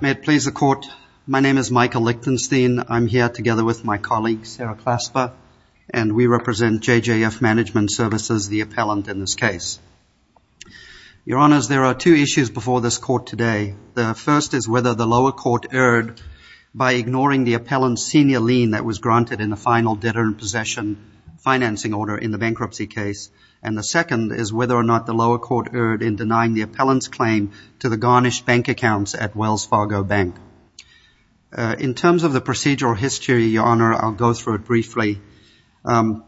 May it please the Court, my name is Michael Lichtenstein. I'm here together with my colleague Sarah Klasper and we represent J.J.F. Management Services, the appellant in this case. Your Honors, there are two issues before this Court today. The first is whether the lower court erred by ignoring the appellant's senior lien that was granted in the final debtor in possession financing order in the bankruptcy case. And the second is whether or not the Bank. In terms of the procedural history, Your Honor, I'll go through it briefly. In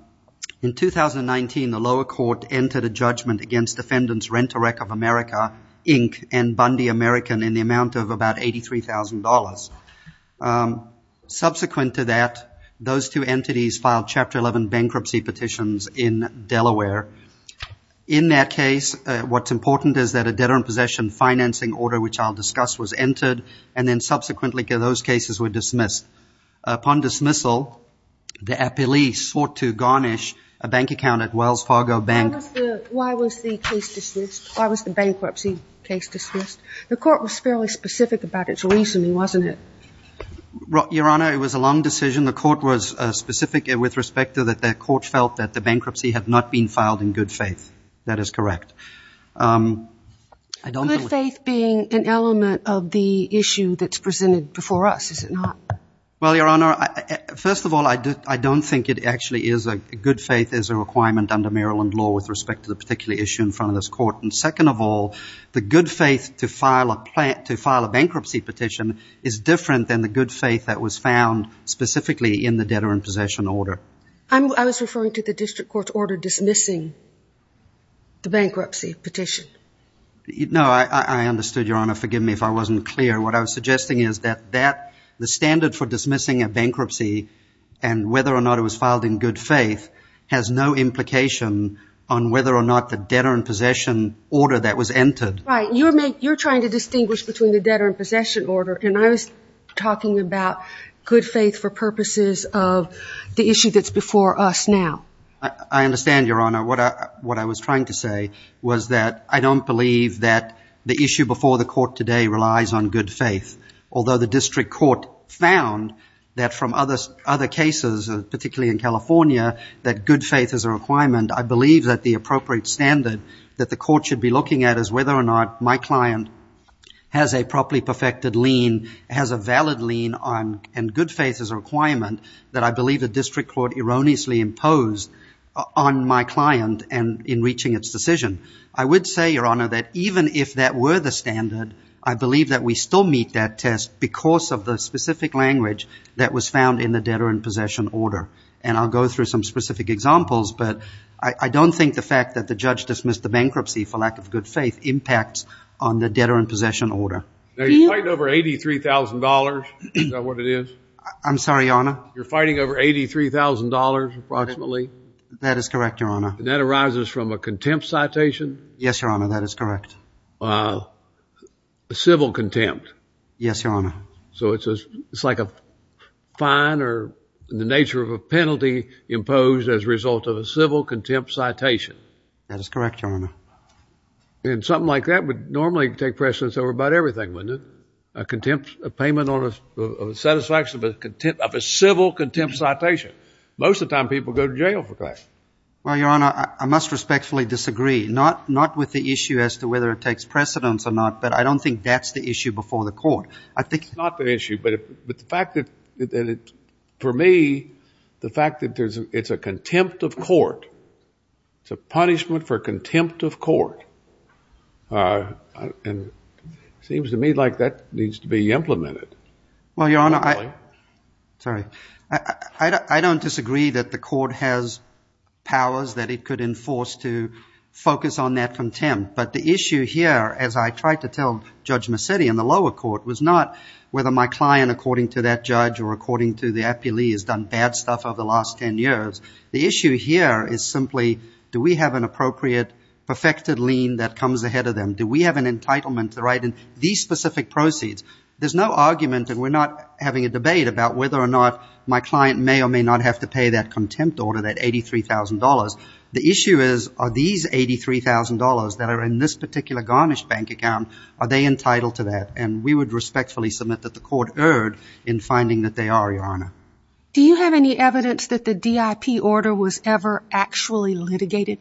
2019, the lower court entered a judgment against defendants Rent-A-Wreck of America, Inc. and Bundy American in the amount of about $83,000. Subsequent to that, those two entities filed Chapter 11 bankruptcy petitions in Delaware. In that case, what's important is that a debtor in possession financing order, which I'll discuss, was entered and then subsequently those cases were dismissed. Upon dismissal, the appellee sought to garnish a bank account at Wells Fargo Bank. Why was the bankruptcy case dismissed? The Court was fairly specific about its reasoning, wasn't it? Your Honor, it was a long decision. The Court was specific with respect to that the Court felt that the bankruptcy had not been filed in good faith. That is correct. Good faith being an element of the issue that's presented before us, is it not? Well, Your Honor, first of all, I don't think it actually is. Good faith is a requirement under Maryland law with respect to the particular issue in front of this Court. And second of all, the good faith to file a bankruptcy petition is different than the good faith that was found specifically in the debtor in possession order. I was referring to the District Court's order dismissing the bankruptcy petition. No, I understood, Your Honor. Forgive me if I wasn't clear. What I was suggesting is that the standard for dismissing a bankruptcy and whether or not it was filed in good faith has no implication on whether or not the debtor in possession order that was entered. Right. You're trying to distinguish between the debtor in possession order and I was talking about good faith for I understand, Your Honor. What I was trying to say was that I don't believe that the issue before the Court today relies on good faith. Although the District Court found that from other cases, particularly in California, that good faith is a requirement, I believe that the appropriate standard that the Court should be looking at is whether or not my client has a properly perfected lien, has a valid lien, and good faith is a requirement that I believe the District Court erroneously imposed on my client in reaching its decision. I would say, Your Honor, that even if that were the standard, I believe that we still meet that test because of the specific language that was found in the debtor in possession order. And I'll go through some specific examples, but I don't think the fact that the judge dismissed the bankruptcy for lack of good faith impacts on the debtor in possession order. Now, you're fighting over $83,000. Is that what it is? I'm sorry, Your Honor? You're fighting over $83,000, approximately? That is correct, Your Honor. And that arises from a contempt citation? Yes, Your Honor, that is correct. A civil contempt? Yes, Your Honor. So it's like a fine or the nature of a penalty imposed as a result of a civil contempt citation? That is correct, Your Honor. And something like that would normally take precedence over about everything, wouldn't it? A payment of satisfaction of a civil contempt citation. Most of the time, people go to jail for that. Well, Your Honor, I must respectfully disagree, not with the issue as to whether it takes precedence or not, but I don't think that's the issue before the court. It's not the issue, but for me, the fact that it's a contempt of court, it's a punishment for contempt of court, and it seems to me like that needs to be implemented. Well, Your Honor, I don't disagree that the court has powers that it could enforce to focus on that contempt, but the issue here, as I tried to tell Judge Macedi in the lower court, was not whether my client, according to that judge or according to the appellee, has done bad stuff over the last 10 years. The issue here is simply, do we have an appropriate, perfected lien that comes ahead of them? Do we have an entitlement to write in these specific proceeds? There's no argument, and we're not having a debate about whether or not my client may or may not have to pay that contempt order, that $83,000. The issue is, are these $83,000 that are in this particular Garnish Bank account, are they entitled to that? And we would respectfully submit that the court erred in finding that they are, Your Honor. Do you have any evidence that the DIP order was ever actually litigated?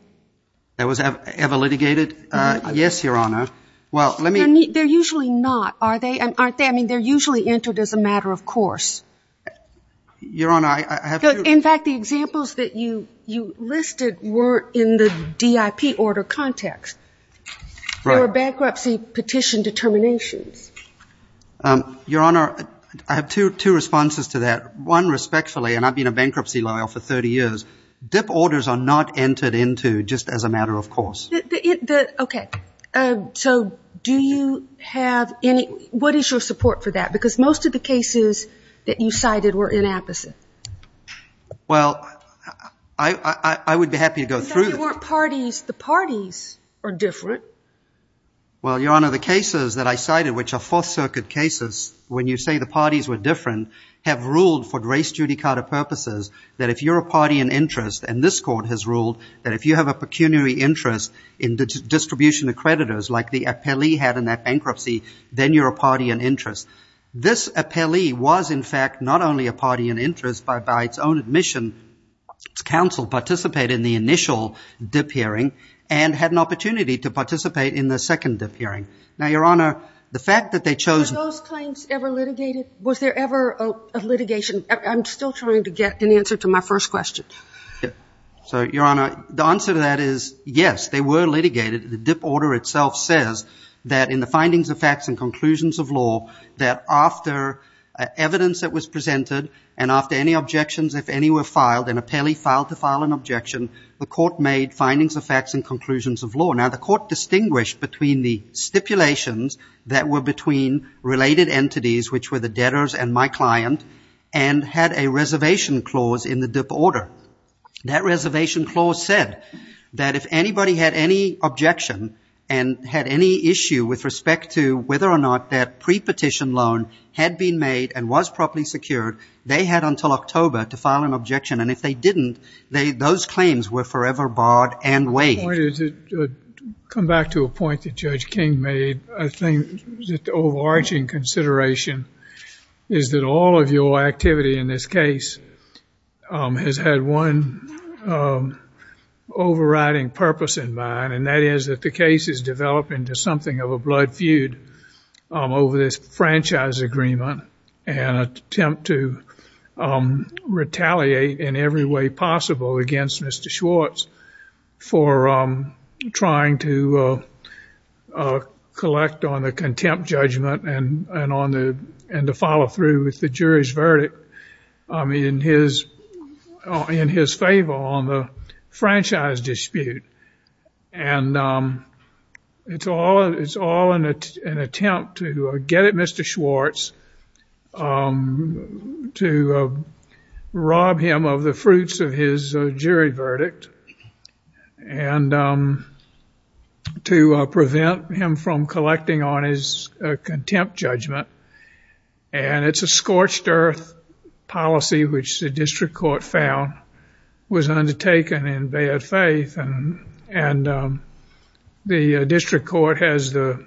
That was ever litigated? Yes, Your Honor. Well, let me – They're usually not, are they? Aren't they? I mean, they're usually entered as a matter of course. Your Honor, I have to – In fact, the examples that you listed were in the DIP order context. Right. Are there bankruptcy petition determinations? Your Honor, I have two responses to that. One, respectfully, and I've been a bankruptcy lawyer for 30 years, DIP orders are not entered into just as a matter of course. The – okay. So do you have any – what is your support for that? Because most of the cases that you cited were inapposite. Well, I would be happy to go through – But if they weren't parties, the parties are different. Well, Your Honor, the cases that I cited, which are Fourth Circuit cases, when you say the parties were different, have ruled for race judicata purposes that if you're a party in interest, and this court has ruled that if you have a pecuniary interest in distribution of creditors like the appellee had in that bankruptcy, then you're a party in interest. This appellee was in fact not only a party in interest, but by its own admission, its in the initial DIP hearing, and had an opportunity to participate in the second DIP hearing. Now, Your Honor, the fact that they chose – Were those claims ever litigated? Was there ever a litigation? I'm still trying to get an answer to my first question. So Your Honor, the answer to that is yes, they were litigated. The DIP order itself says that in the findings of facts and conclusions of law, that after evidence that was presented and after any objections, if any were filed, an appellee filed to file an objection, the court made findings of facts and conclusions of law. Now, the court distinguished between the stipulations that were between related entities, which were the debtors and my client, and had a reservation clause in the DIP order. That reservation clause said that if anybody had any objection and had any issue with respect to whether or not that pre-petition loan had been made and was properly secured, they had until October to file an objection, and if they didn't, those claims were forever barred and waived. To come back to a point that Judge King made, I think the overarching consideration is that all of your activity in this case has had one overriding purpose in mind, and that is that the case is developing into something of a blood feud over this franchise agreement and attempt to retaliate in every way possible against Mr. Schwartz for trying to collect on the contempt judgment and to follow through with the jury's verdict in his favor on the contempt judgment. It's all an attempt to get at Mr. Schwartz, to rob him of the fruits of his jury verdict, and to prevent him from collecting on his contempt judgment, and it's a scorched earth policy which the district court found was undertaken in bad faith, and the district court has the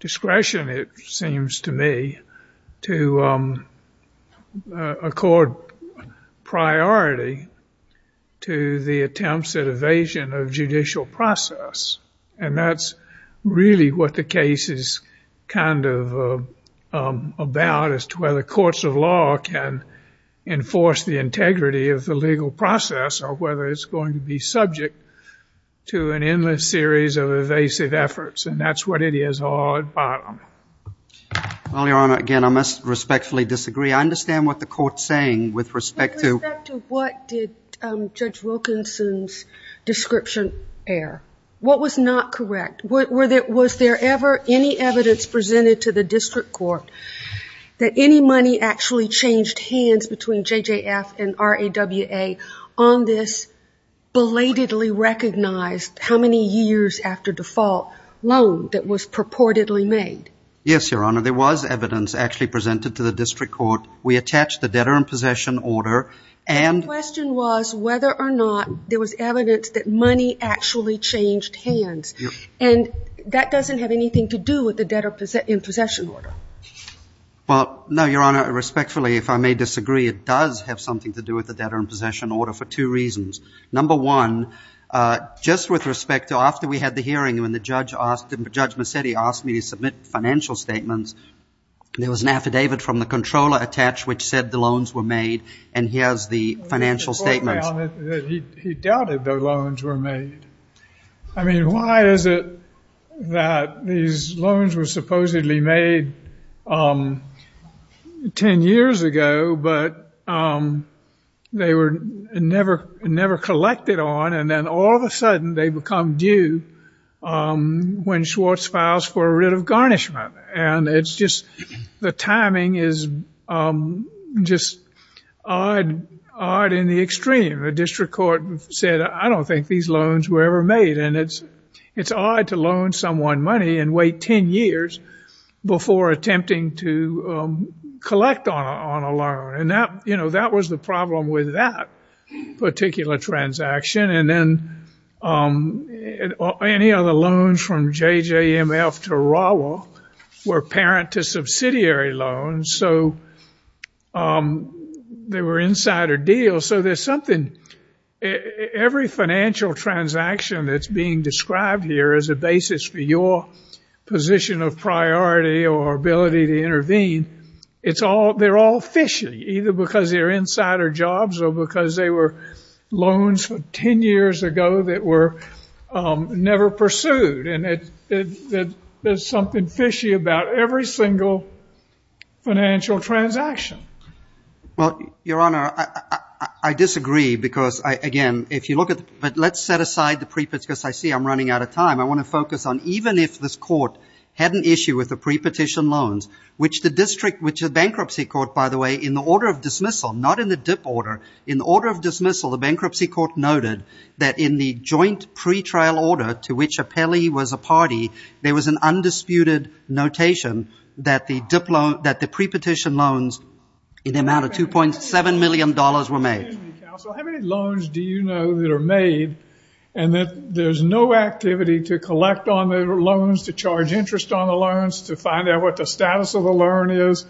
discretion, it seems to me, to accord priority to the attempts at evasion of judicial process, and that's really what the case is kind of about as to whether courts of law can enforce the integrity of the legal process or whether it's going to be subject to an endless series of evasive efforts, and that's what it is all at bottom. Well, Your Honor, again, I must respectfully disagree. I understand what the court's saying with respect to... With respect to what did Judge Wilkinson's description air? What was not correct? Was there ever any evidence presented to the district court that any money actually changed hands between J.J.F. and R.A.W.A. on this belatedly recognized, how many years after default, loan that was purportedly made? Yes, Your Honor. There was evidence actually presented to the district court. We attached the debtor in possession order, and... The question was whether or not there was evidence that money actually changed hands, and that doesn't have anything to do with the debtor in possession order. Well, no, Your Honor, respectfully, if I may disagree, it does have something to do with the debtor in possession order for two reasons. Number one, just with respect to after we had the hearing, when the judge asked him, Judge Mercedi asked me to submit financial statements, there was an affidavit from the controller attached which said the loans were made, and here's the financial statements. He doubted the loans were made. I mean, why is it that these loans were supposedly made 10 years ago, but they were never collected on, and then all of a sudden they become due when Schwartz files for a writ of garnishment, and it's just the timing is just odd in the extreme. The district court said, I don't think these loans were ever made, and it's odd to loan someone money and wait 10 years before attempting to collect on a loan, and that was the problem with that particular transaction, and then any other loans from JJMF to Rawa were parent to subsidiary loans, so they were insider deals, so there's something. Every financial transaction that's being described here as a basis for your position of priority or ability to intervene, they're all fishy, either because they're insider jobs or because they were loans from 10 years ago that were never pursued, and there's something fishy about every single financial transaction. Well, Your Honor, I disagree because, again, if you look at, but let's set aside the pre-petition, because I see I'm running out of time. I want to focus on even if this court had an issue with the pre-petition loans, which the district, which the bankruptcy court, by the way, in the order of dismissal, not in the dip order, in the order of dismissal, the bankruptcy court noted that in the joint pretrial order to which Apelli was a party, there was an in the amount of $2.7 million were made. Excuse me, counsel. How many loans do you know that are made and that there's no activity to collect on the loans, to charge interest on the loans, to find out what the status of the loan is,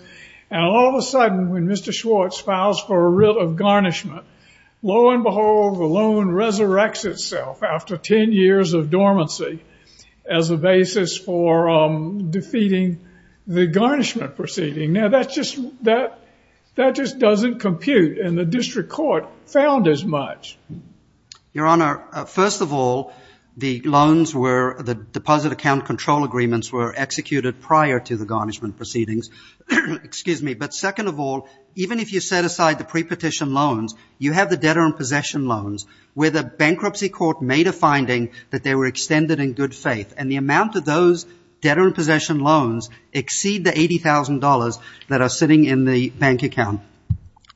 and all of a sudden, when Mr. Schwartz files for a writ of garnishment, lo and behold, the loan resurrects itself after 10 years of dormancy as a basis for defeating the garnishment proceeding. Now, that just doesn't compute, and the district court found as much. Your Honor, first of all, the loans were, the deposit account control agreements were executed prior to the garnishment proceedings. Excuse me, but second of all, even if you set aside the pre-petition loans, you have the debtor in possession loans where the bankruptcy court made a finding that they were extended in good faith, and the amount of those debtor in possession loans exceed the $80,000 that are sitting in the bank account.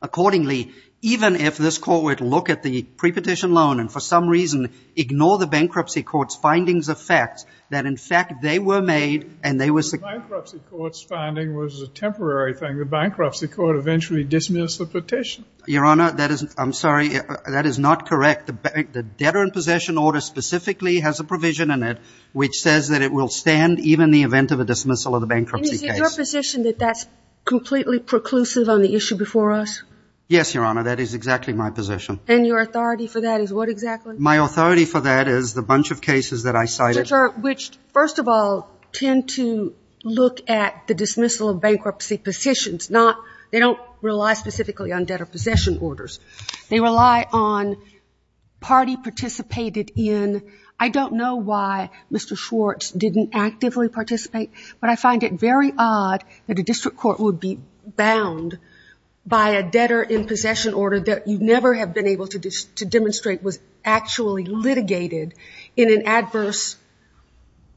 Accordingly, even if this court were to look at the pre-petition loan and for some reason ignore the bankruptcy court's findings of facts, that in fact they were made and they were The bankruptcy court's finding was a temporary thing. The bankruptcy court eventually dismissed the petition. Your Honor, that is, I'm sorry, that is not correct. The debtor in possession order specifically has a provision in it which says that it will stand even in the event of a dismissal of the bankruptcy case. And is it your position that that's completely preclusive on the issue before us? Yes, Your Honor, that is exactly my position. And your authority for that is what exactly? My authority for that is the bunch of cases that I cited. Which, first of all, tend to look at the dismissal of bankruptcy positions, not, they don't rely specifically on debtor possession orders. They rely on party participated in, I don't know why Mr. Schwartz didn't actively participate, but I find it very odd that a district court would be bound by a debtor in possession order that you never have been able to demonstrate was actually litigated in an adverse,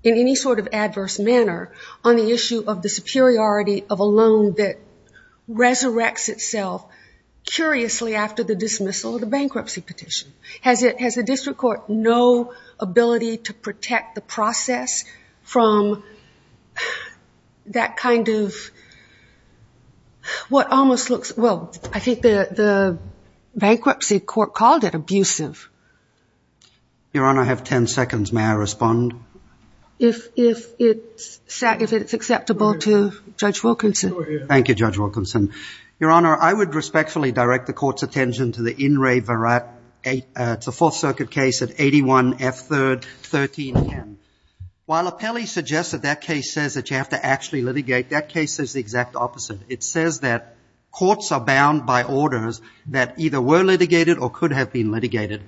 in any sort of adverse manner on the issue of the curiously after the dismissal of the bankruptcy petition. Has the district court no ability to protect the process from that kind of, what almost looks, well, I think the bankruptcy court called it abusive. Your Honor, I have 10 seconds. May I respond? If it's acceptable to Judge Wilkinson. Thank you, Judge Wilkinson. Your Honor, I would respectfully direct the court's attention to the In Re Verat, it's a Fourth Circuit case at 81F3rd 13N. While Apelli suggests that that case says that you have to actually litigate, that case says the exact opposite. It says that courts are bound by orders that either were litigated or could have been litigated.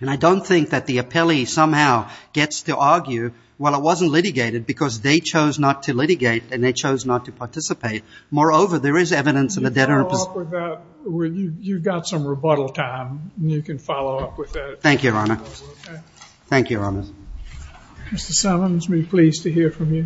And I don't think that the Apelli somehow gets to argue, well, it wasn't litigated because they chose not to litigate and they chose not to participate. Moreover, there is evidence of a debtor. You've got some rebuttal time, and you can follow up with that. Thank you, Your Honor. Thank you, Your Honor. Mr. Summons, we're pleased to hear from you.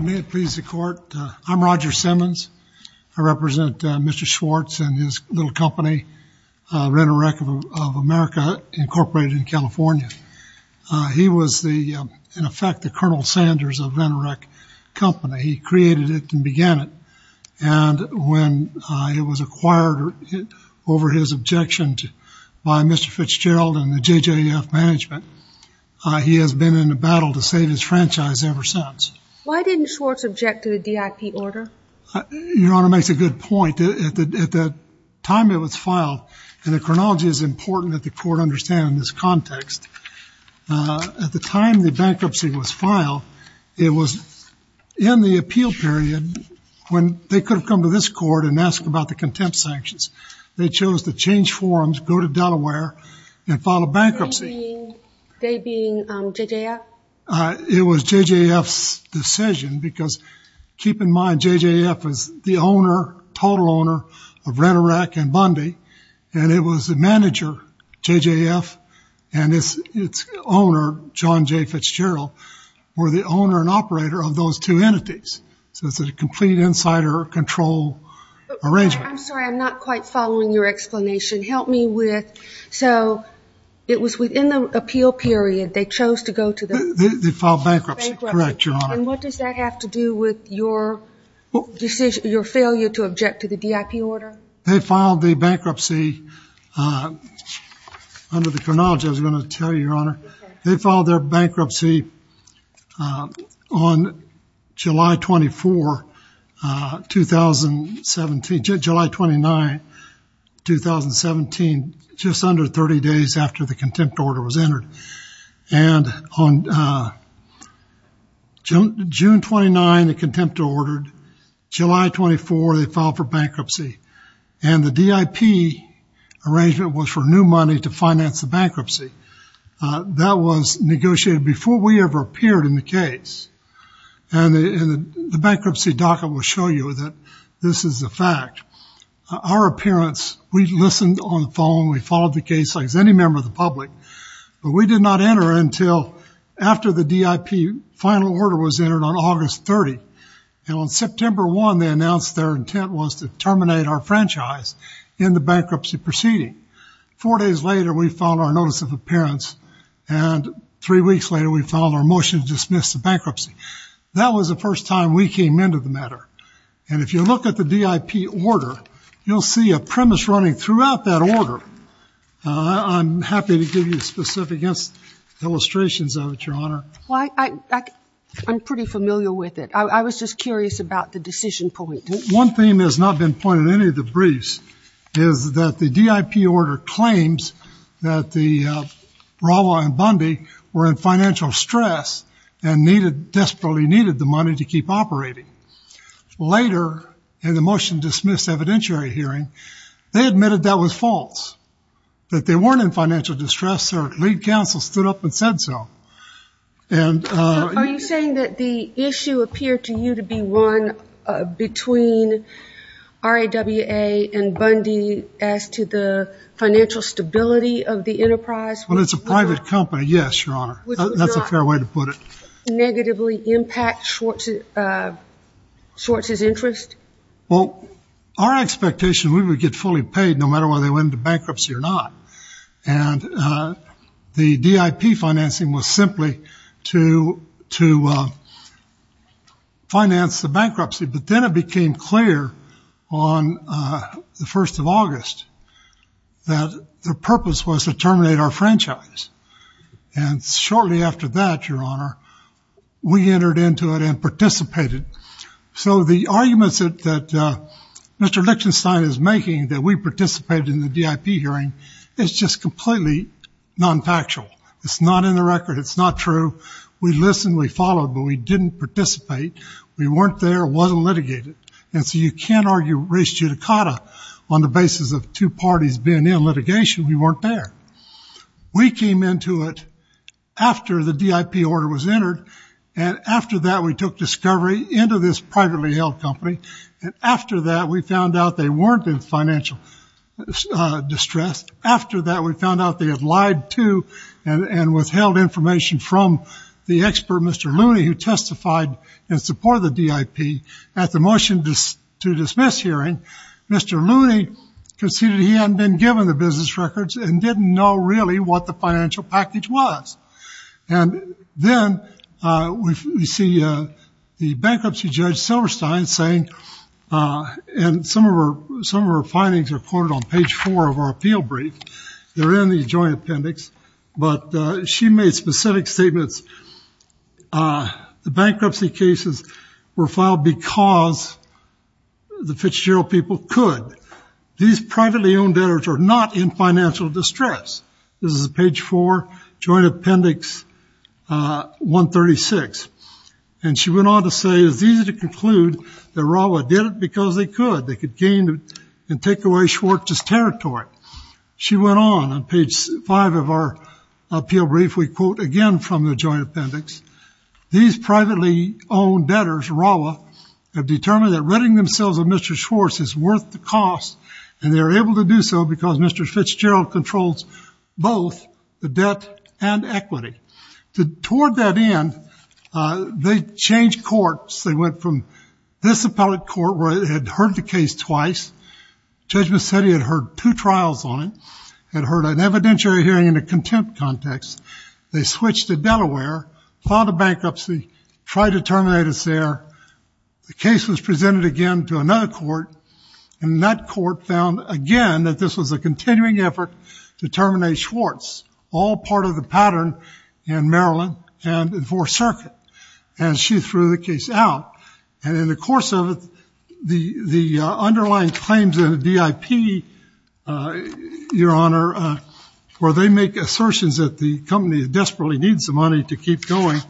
May it please the court, I'm Roger Simmons. I represent Mr. Schwartz and his little company, Renorec of America, incorporated in California. He was the, in effect, the Colonel Sanders of Renorec Company. He created it and began it. And when it was acquired over his objection by Mr. Fitzgerald and the JJF management, he has been in a battle to save his franchise ever since. Why didn't Schwartz object to the DIP order? Your Honor makes a good point. At the time it was filed, and the chronology is important that the court understand in this context, at the time the bankruptcy was filed, it was in the appeal period when they could have come to this court and asked about the contempt sanctions. They chose to change forms, go to Delaware, and file a bankruptcy. They being JJF? It was JJF's decision, because keep in mind JJF is the owner, total owner, of Renorec and Bundy. And it was the manager, JJF, and its owner, John J. Fitzgerald, were the owner and operator of those two entities. So it's a complete insider control arrangement. I'm sorry, I'm not quite following your explanation. Help me with... So it was within the appeal period they chose to go to the... They filed bankruptcy, correct, Your Honor. And what does that have to do with your decision, your failure to object to the DIP order? They filed the bankruptcy under the chronology, I was going to tell you, Your Honor. They filed bankruptcy on July 29, 2017, just under 30 days after the contempt order was entered. And on June 29, the contempt order, July 24, they filed for bankruptcy. And the DIP arrangement was for new money to finance the bankruptcy. That was negotiated before we ever appeared in the case. And the bankruptcy docket will show you that this is a fact. Our appearance, we listened on the phone, we followed the case like any member of the public, but we did not enter until after the DIP final order was entered on August 30. And on September 1, they announced their intent was to terminate our franchise in the bankruptcy proceeding. Four days later, we filed our notice of appearance, and three weeks later we filed our motion to dismiss the bankruptcy. That was the first time we came into the matter. And if you look at the DIP order, you'll see a premise running throughout that order. I'm happy to give you specific illustrations of it, Your Honor. I'm pretty familiar with it. I was just curious about the decision point. One thing that has not been pointed in any of the briefs is that the DIP order claims that the Bravo and Bundy were in financial stress and desperately needed the money to keep operating. Later, in the motion to dismiss evidentiary hearing, they admitted that was false, that they weren't in financial distress. Their lead counsel stood up and said so. Are you saying that the issue appeared to you to be one between RAWA and Bundy as to the financial stability of the enterprise? Well, it's a private company, yes, Your Honor. That's a fair way to put it. Which would not negatively impact Schwartz's interest? Well, our expectation, we would get fully paid no matter whether they went into bankruptcy or not. And the DIP financing was simply to finance the bankruptcy. But then it became clear on the 1st of August that their purpose was to terminate our franchise. And shortly after that, Your Honor, we entered into it and participated. So the arguments that Mr. Lichtenstein is making, that we participated in the DIP hearing, it's just completely non-factual. It's not in the record. It's not true. We listened. We followed. But we didn't participate. We weren't there. It wasn't litigated. And so you can't argue res judicata on the basis of two parties being in litigation. We weren't there. We came into it after the DIP order was entered. And after that, we took discovery into this privately held company. And after that, we found out they weren't in financial distress. After that, we found out they had lied to and withheld information from the expert, Mr. Looney, who testified in support of the DIP. At the motion to dismiss hearing, Mr. Looney conceded he hadn't been given the business records and didn't know really what the financial package was. And then we see the bankruptcy judge Silverstein saying, and some of our findings are quoted on page four of our appeal brief. They're in the joint appendix. But she made specific statements. The bankruptcy cases were filed because the Fitzgerald people could. These privately owned debtors are not in financial distress. This is page four, joint appendix 136. And she went on to say, it's easy to conclude that Rawa did it because they could. They could gain and take away Schwartz's territory. She went on on page five of our appeal brief. We quote again from the joint appendix. These privately owned debtors, Rawa, have determined that ridding themselves of Mr. Schwartz is worth the cost. And they're able to do so because Mr. Fitzgerald controls both the debt and equity. Toward that end, they changed courts. They went from this appellate court where they had heard the case twice. Judge Mazzetti had heard two trials on it, had heard an evidentiary hearing in a contempt context. They switched to Delaware, filed a bankruptcy, tried to terminate us there. The case was presented again to another court, and that court found again that this was a continuing effort to terminate Schwartz, all part of the pattern in Maryland and the Fourth Circuit. And she threw the case out. And in the course of it, the underlying claims of the VIP, Your Honor, where they make assertions that the company desperately needs the money to keep going,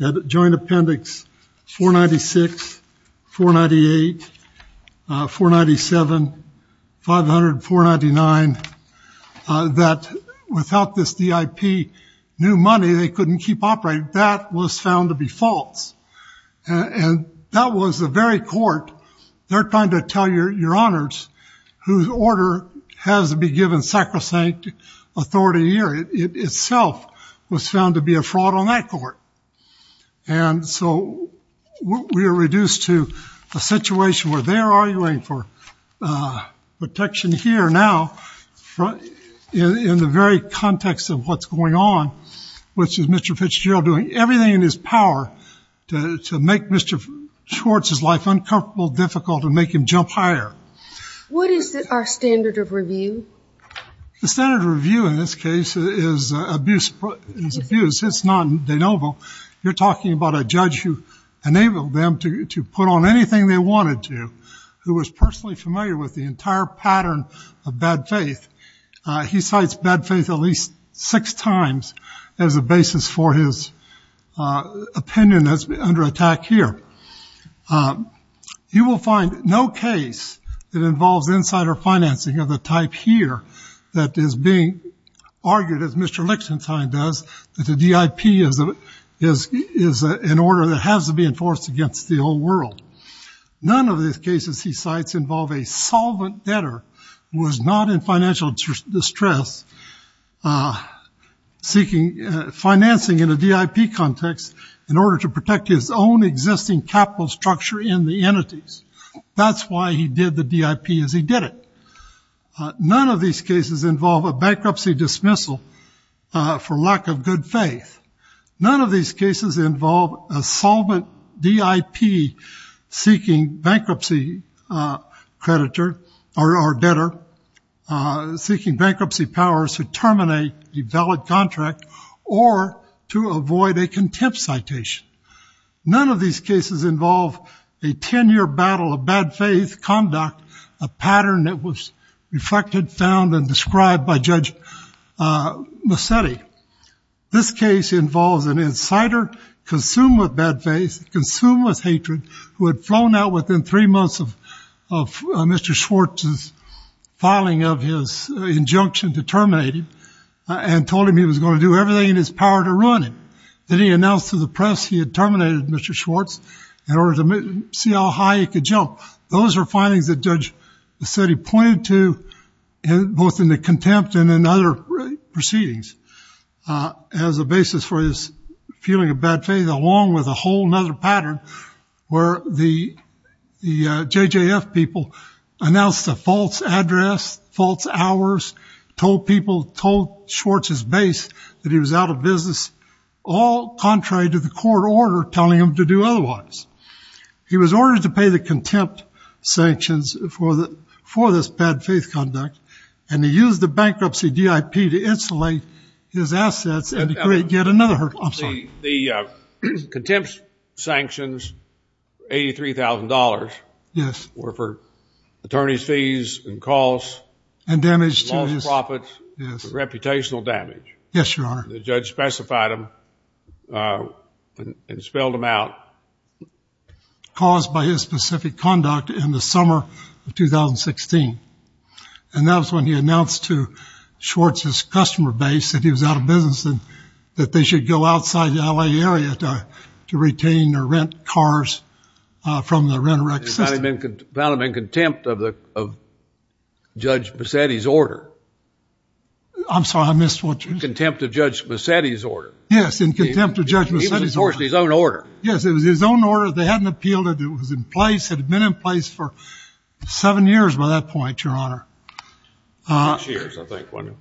that joint appendix 496, 498, 497, 590, 590, 594, 599, that without this VIP new money, they couldn't keep operating, that was found to be false. And that was the very court they're trying to tell Your Honors whose order has to be given sacrosanct authority here. It itself was found to be a fraud on that court. And so we are reduced to a situation where they're arguing for protection here now in the very context of what's going on, which is Mr. Fitzgerald doing everything in his power to make Mr. Schwartz's life uncomfortable, difficult, and make him jump higher. What is our standard of review? The standard of review in this case is abuse. It's not de novo. You're talking about a judge who enabled them to put on anything they wanted to, who was personally familiar with the entire pattern of bad faith. He cites bad faith at least six times as a basis for his opinion that's under attack here. You will find no case that involves insider financing of the type here that is being argued, as Mr. Lichtenstein does, that the DIP is an order that has to be enforced against the whole world. None of the cases he cites involve a solvent debtor who is not in financial distress, seeking financing in a DIP context in order to protect his own existing capital structure in the entities. That's why he did the DIP as he did it. None of these cases involve a bankruptcy dismissal for lack of good faith. None of these cases involve a solvent DIP seeking bankruptcy creditor or debtor, seeking bankruptcy powers to terminate a valid contract or to avoid a contempt citation. None of these cases involve a ten-year battle of bad faith conduct, a pattern that was reflected, found, and described by Judge Musetti. This case involves an insider consumed with bad faith, consumed with hatred, who had flown out within three months of Mr. Schwartz's filing of his injunction to terminate him and told him he was going to do everything in his power to ruin him. Then he announced to the press he had terminated Mr. Schwartz in order to see how high he could jump. Those were findings that Judge Musetti pointed to, both in the contempt and in other proceedings, as a basis for his feeling of bad faith, along with a whole other pattern where the JJF people announced a false address, false hours, told people, told Schwartz's base that he was out of business, all contrary to the court order telling him to do otherwise. He was ordered to pay the contempt sanctions for this bad faith conduct, and he used the bankruptcy DIP to insulate his assets and create yet another hurt. The contempt sanctions, $83,000, were for attorney's fees and costs, lost profits, and the judge specified them and spelled them out. Caused by his specific conduct in the summer of 2016, and that was when he announced to Schwartz's customer base that he was out of business and that they should go outside the L.A. area to retain or rent cars from the Rent-a-Wreck system. He found him in contempt of Judge Musetti's order. I'm sorry, I missed what you said. He found him in contempt of Judge Musetti's order. Yes, in contempt of Judge Musetti's order. He enforced his own order. Yes, it was his own order. They hadn't appealed it. It was in place. It had been in place for seven years by that point, Your Honor. Six years, I think, wasn't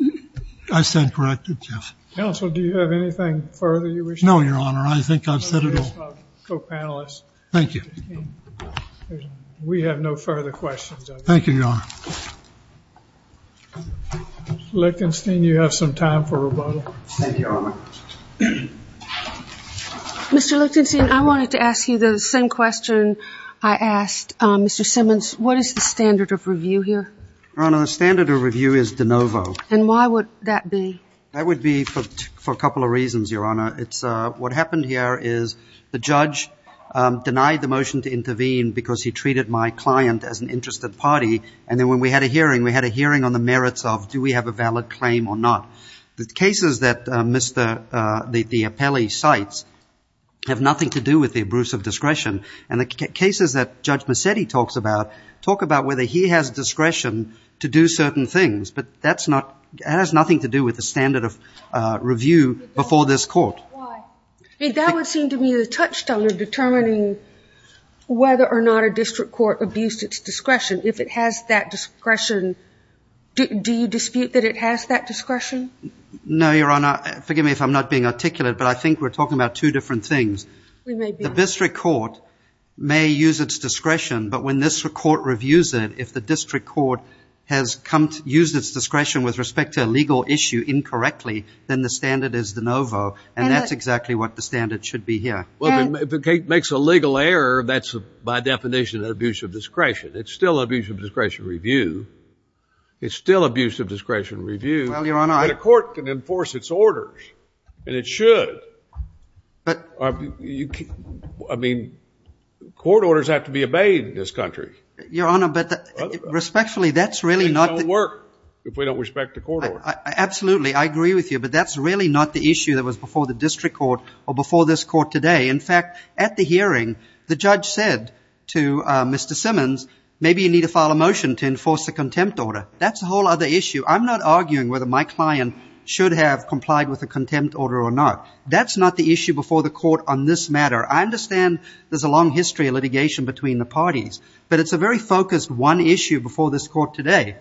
it? I stand corrected, yes. Counsel, do you have anything further you wish to add? No, Your Honor. I think I've said it all. Let me ask my co-panelists. Thank you. We have no further questions. Thank you, Your Honor. Mr. Lichtenstein, you have some time for rebuttal. Thank you, Your Honor. Mr. Lichtenstein, I wanted to ask you the same question I asked Mr. Simmons. What is the standard of review here? Your Honor, the standard of review is de novo. And why would that be? That would be for a couple of reasons, Your Honor. What happened here is the judge denied the motion to intervene because he treated my client as an interested party. And then when we had a hearing, we had a hearing on the merits of, do we have a valid claim or not? The cases that the appellee cites have nothing to do with the abuse of discretion. And the cases that Judge Massetti talks about talk about whether he has discretion to do certain things. But that has nothing to do with the standard of review before this Court. That would seem to me the touchstone of determining whether or not a district court abused its discretion. If it has that discretion, do you dispute that it has that discretion? No, Your Honor. Forgive me if I'm not being articulate, but I think we're talking about two different things. The district court may use its discretion, but when this court reviews it, if the district court has used its discretion with respect to a legal issue incorrectly, then the standard is de novo. And that's exactly what the standard should be here. Well, if it makes a legal error, that's by definition an abuse of discretion. It's still an abuse of discretion review. It's still abuse of discretion review. Well, Your Honor. But a court can enforce its orders, and it should. I mean, court orders have to be obeyed in this country. Your Honor, but respectfully, that's really not the... Things don't work if we don't respect the court order. Absolutely, I agree with you. But that's really not the issue that was before the district court or before this court today. In fact, at the hearing, the judge said to Mr. Simmons, maybe you need to file a motion to enforce a contempt order. That's a whole other issue. I'm not arguing whether my client should have complied with a contempt order or not. That's not the issue before the court on this matter. I understand there's a long history of litigation between the parties, but it's a very focused one issue before this court today.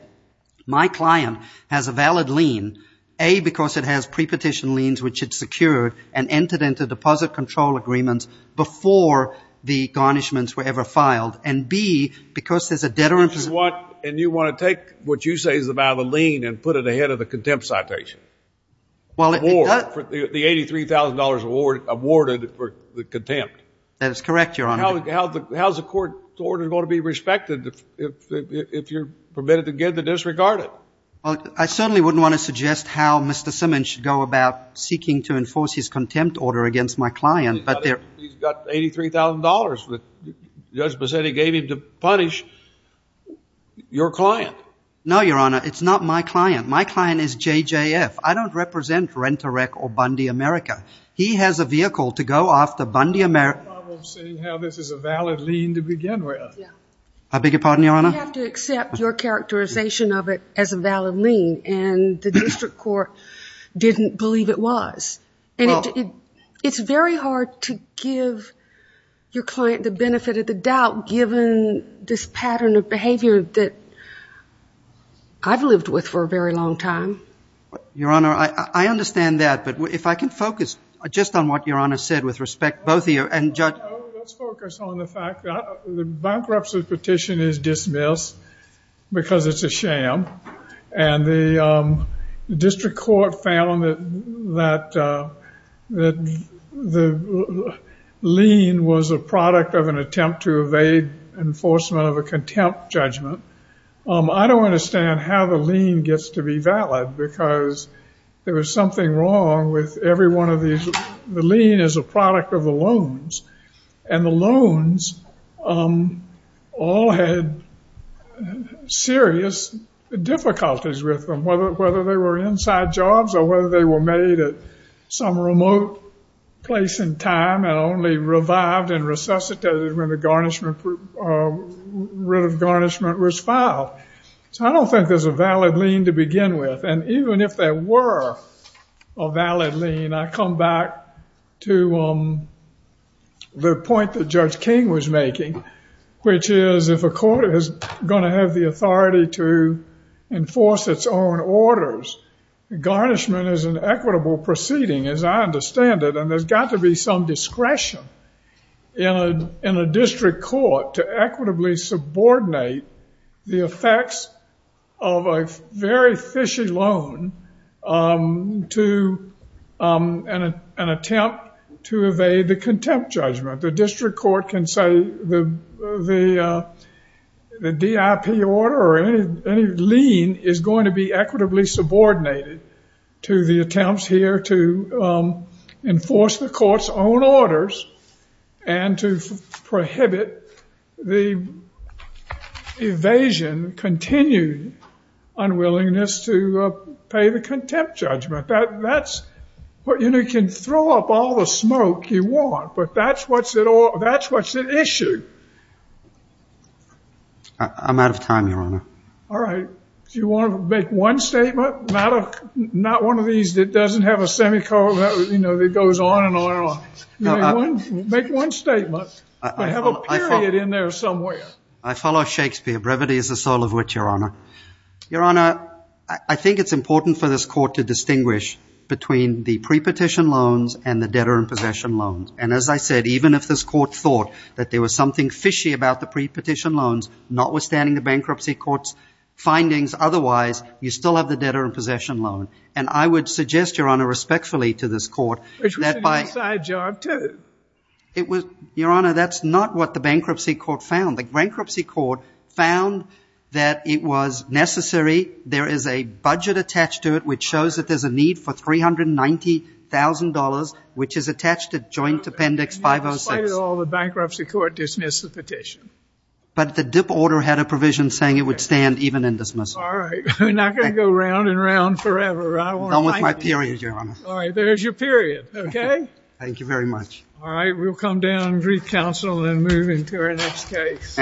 My client has a valid lien, A, because it has pre-petition liens, which it secured and entered into deposit control agreements before the garnishments were ever filed, and B, because there's a debtor... And you want to take what you say is about a lien and put it ahead of the contempt citation? Well... Award, the $83,000 awarded for the contempt. That is correct, Your Honor. How's the court order going to be respected if you're permitted to get it disregarded? Well, I certainly wouldn't want to suggest how Mr. Simmons should go about seeking to enforce his contempt order against my client, but there... He's got $83,000 that Judge Bassetti gave him to punish your client. No, Your Honor, it's not my client. My client is JJF. I don't represent Rent-A-Wreck or Bundy America. He has a vehicle to go after Bundy America... I have a problem seeing how this is a valid lien to begin with. I beg your pardon, Your Honor? You have to accept your characterization of it as a valid lien, and the district court didn't believe it was. And it's very hard to give your client the benefit of the doubt given this pattern of behavior that I've lived with for a very long time. Your Honor, I understand that, but if I can focus just on what Your Honor said with respect, both of you, and Judge... Let's focus on the fact that the bankruptcy petition is dismissed because it's a sham, and the district court found that the lien was a product of an attempt to evade enforcement of a contempt judgment. I don't understand how the lien gets to be valid because there was something wrong with every one of these... And the loans all had serious difficulties with them, whether they were inside jobs or whether they were made at some remote place and time and only revived and resuscitated when the writ of garnishment was filed. So I don't think there's a valid lien to begin with. And even if there were a valid lien, I come back to the point that Judge King was making, which is if a court is going to have the authority to enforce its own orders, garnishment is an equitable proceeding, as I understand it, and there's got to be some discretion in a district court to equitably subordinate the effects of a very fishy loan to an attempt to evade the contempt judgment. The district court can say the DIP order or any lien is going to be equitably subordinated to the attempts here to enforce the court's own orders and to prohibit the evasion, continued unwillingness to pay the contempt judgment. You can throw up all the smoke you want, but that's what's at issue. I'm out of time, Your Honor. All right. Do you want to make one statement? Not one of these that doesn't have a semicolon that goes on and on and on. Make one statement, but have a period in there somewhere. I follow Shakespeare. Brevity is the soul of wit, Your Honor. Your Honor, I think it's important for this court to distinguish between the pre-petition loans and the debtor-in-possession loans. And as I said, even if this court thought that there was something fishy about the pre-petition loans, notwithstanding the bankruptcy court's findings otherwise, you still have the debtor-in-possession loan. And I would suggest, Your Honor, respectfully to this court... Which was an inside job, too. Your Honor, that's not what the bankruptcy court found. The bankruptcy court found that it was necessary. There is a budget attached to it which shows that there's a need for $390,000 which is attached to Joint Appendix 506. Despite it all, the bankruptcy court dismissed the petition. But the DIP order had a provision saying it would stand even in dismissal. All right. We're not going to go round and round forever. Not with my period, Your Honor. All right. There's your period. Okay? Thank you very much. All right. We'll come down and recouncil and move into our next case.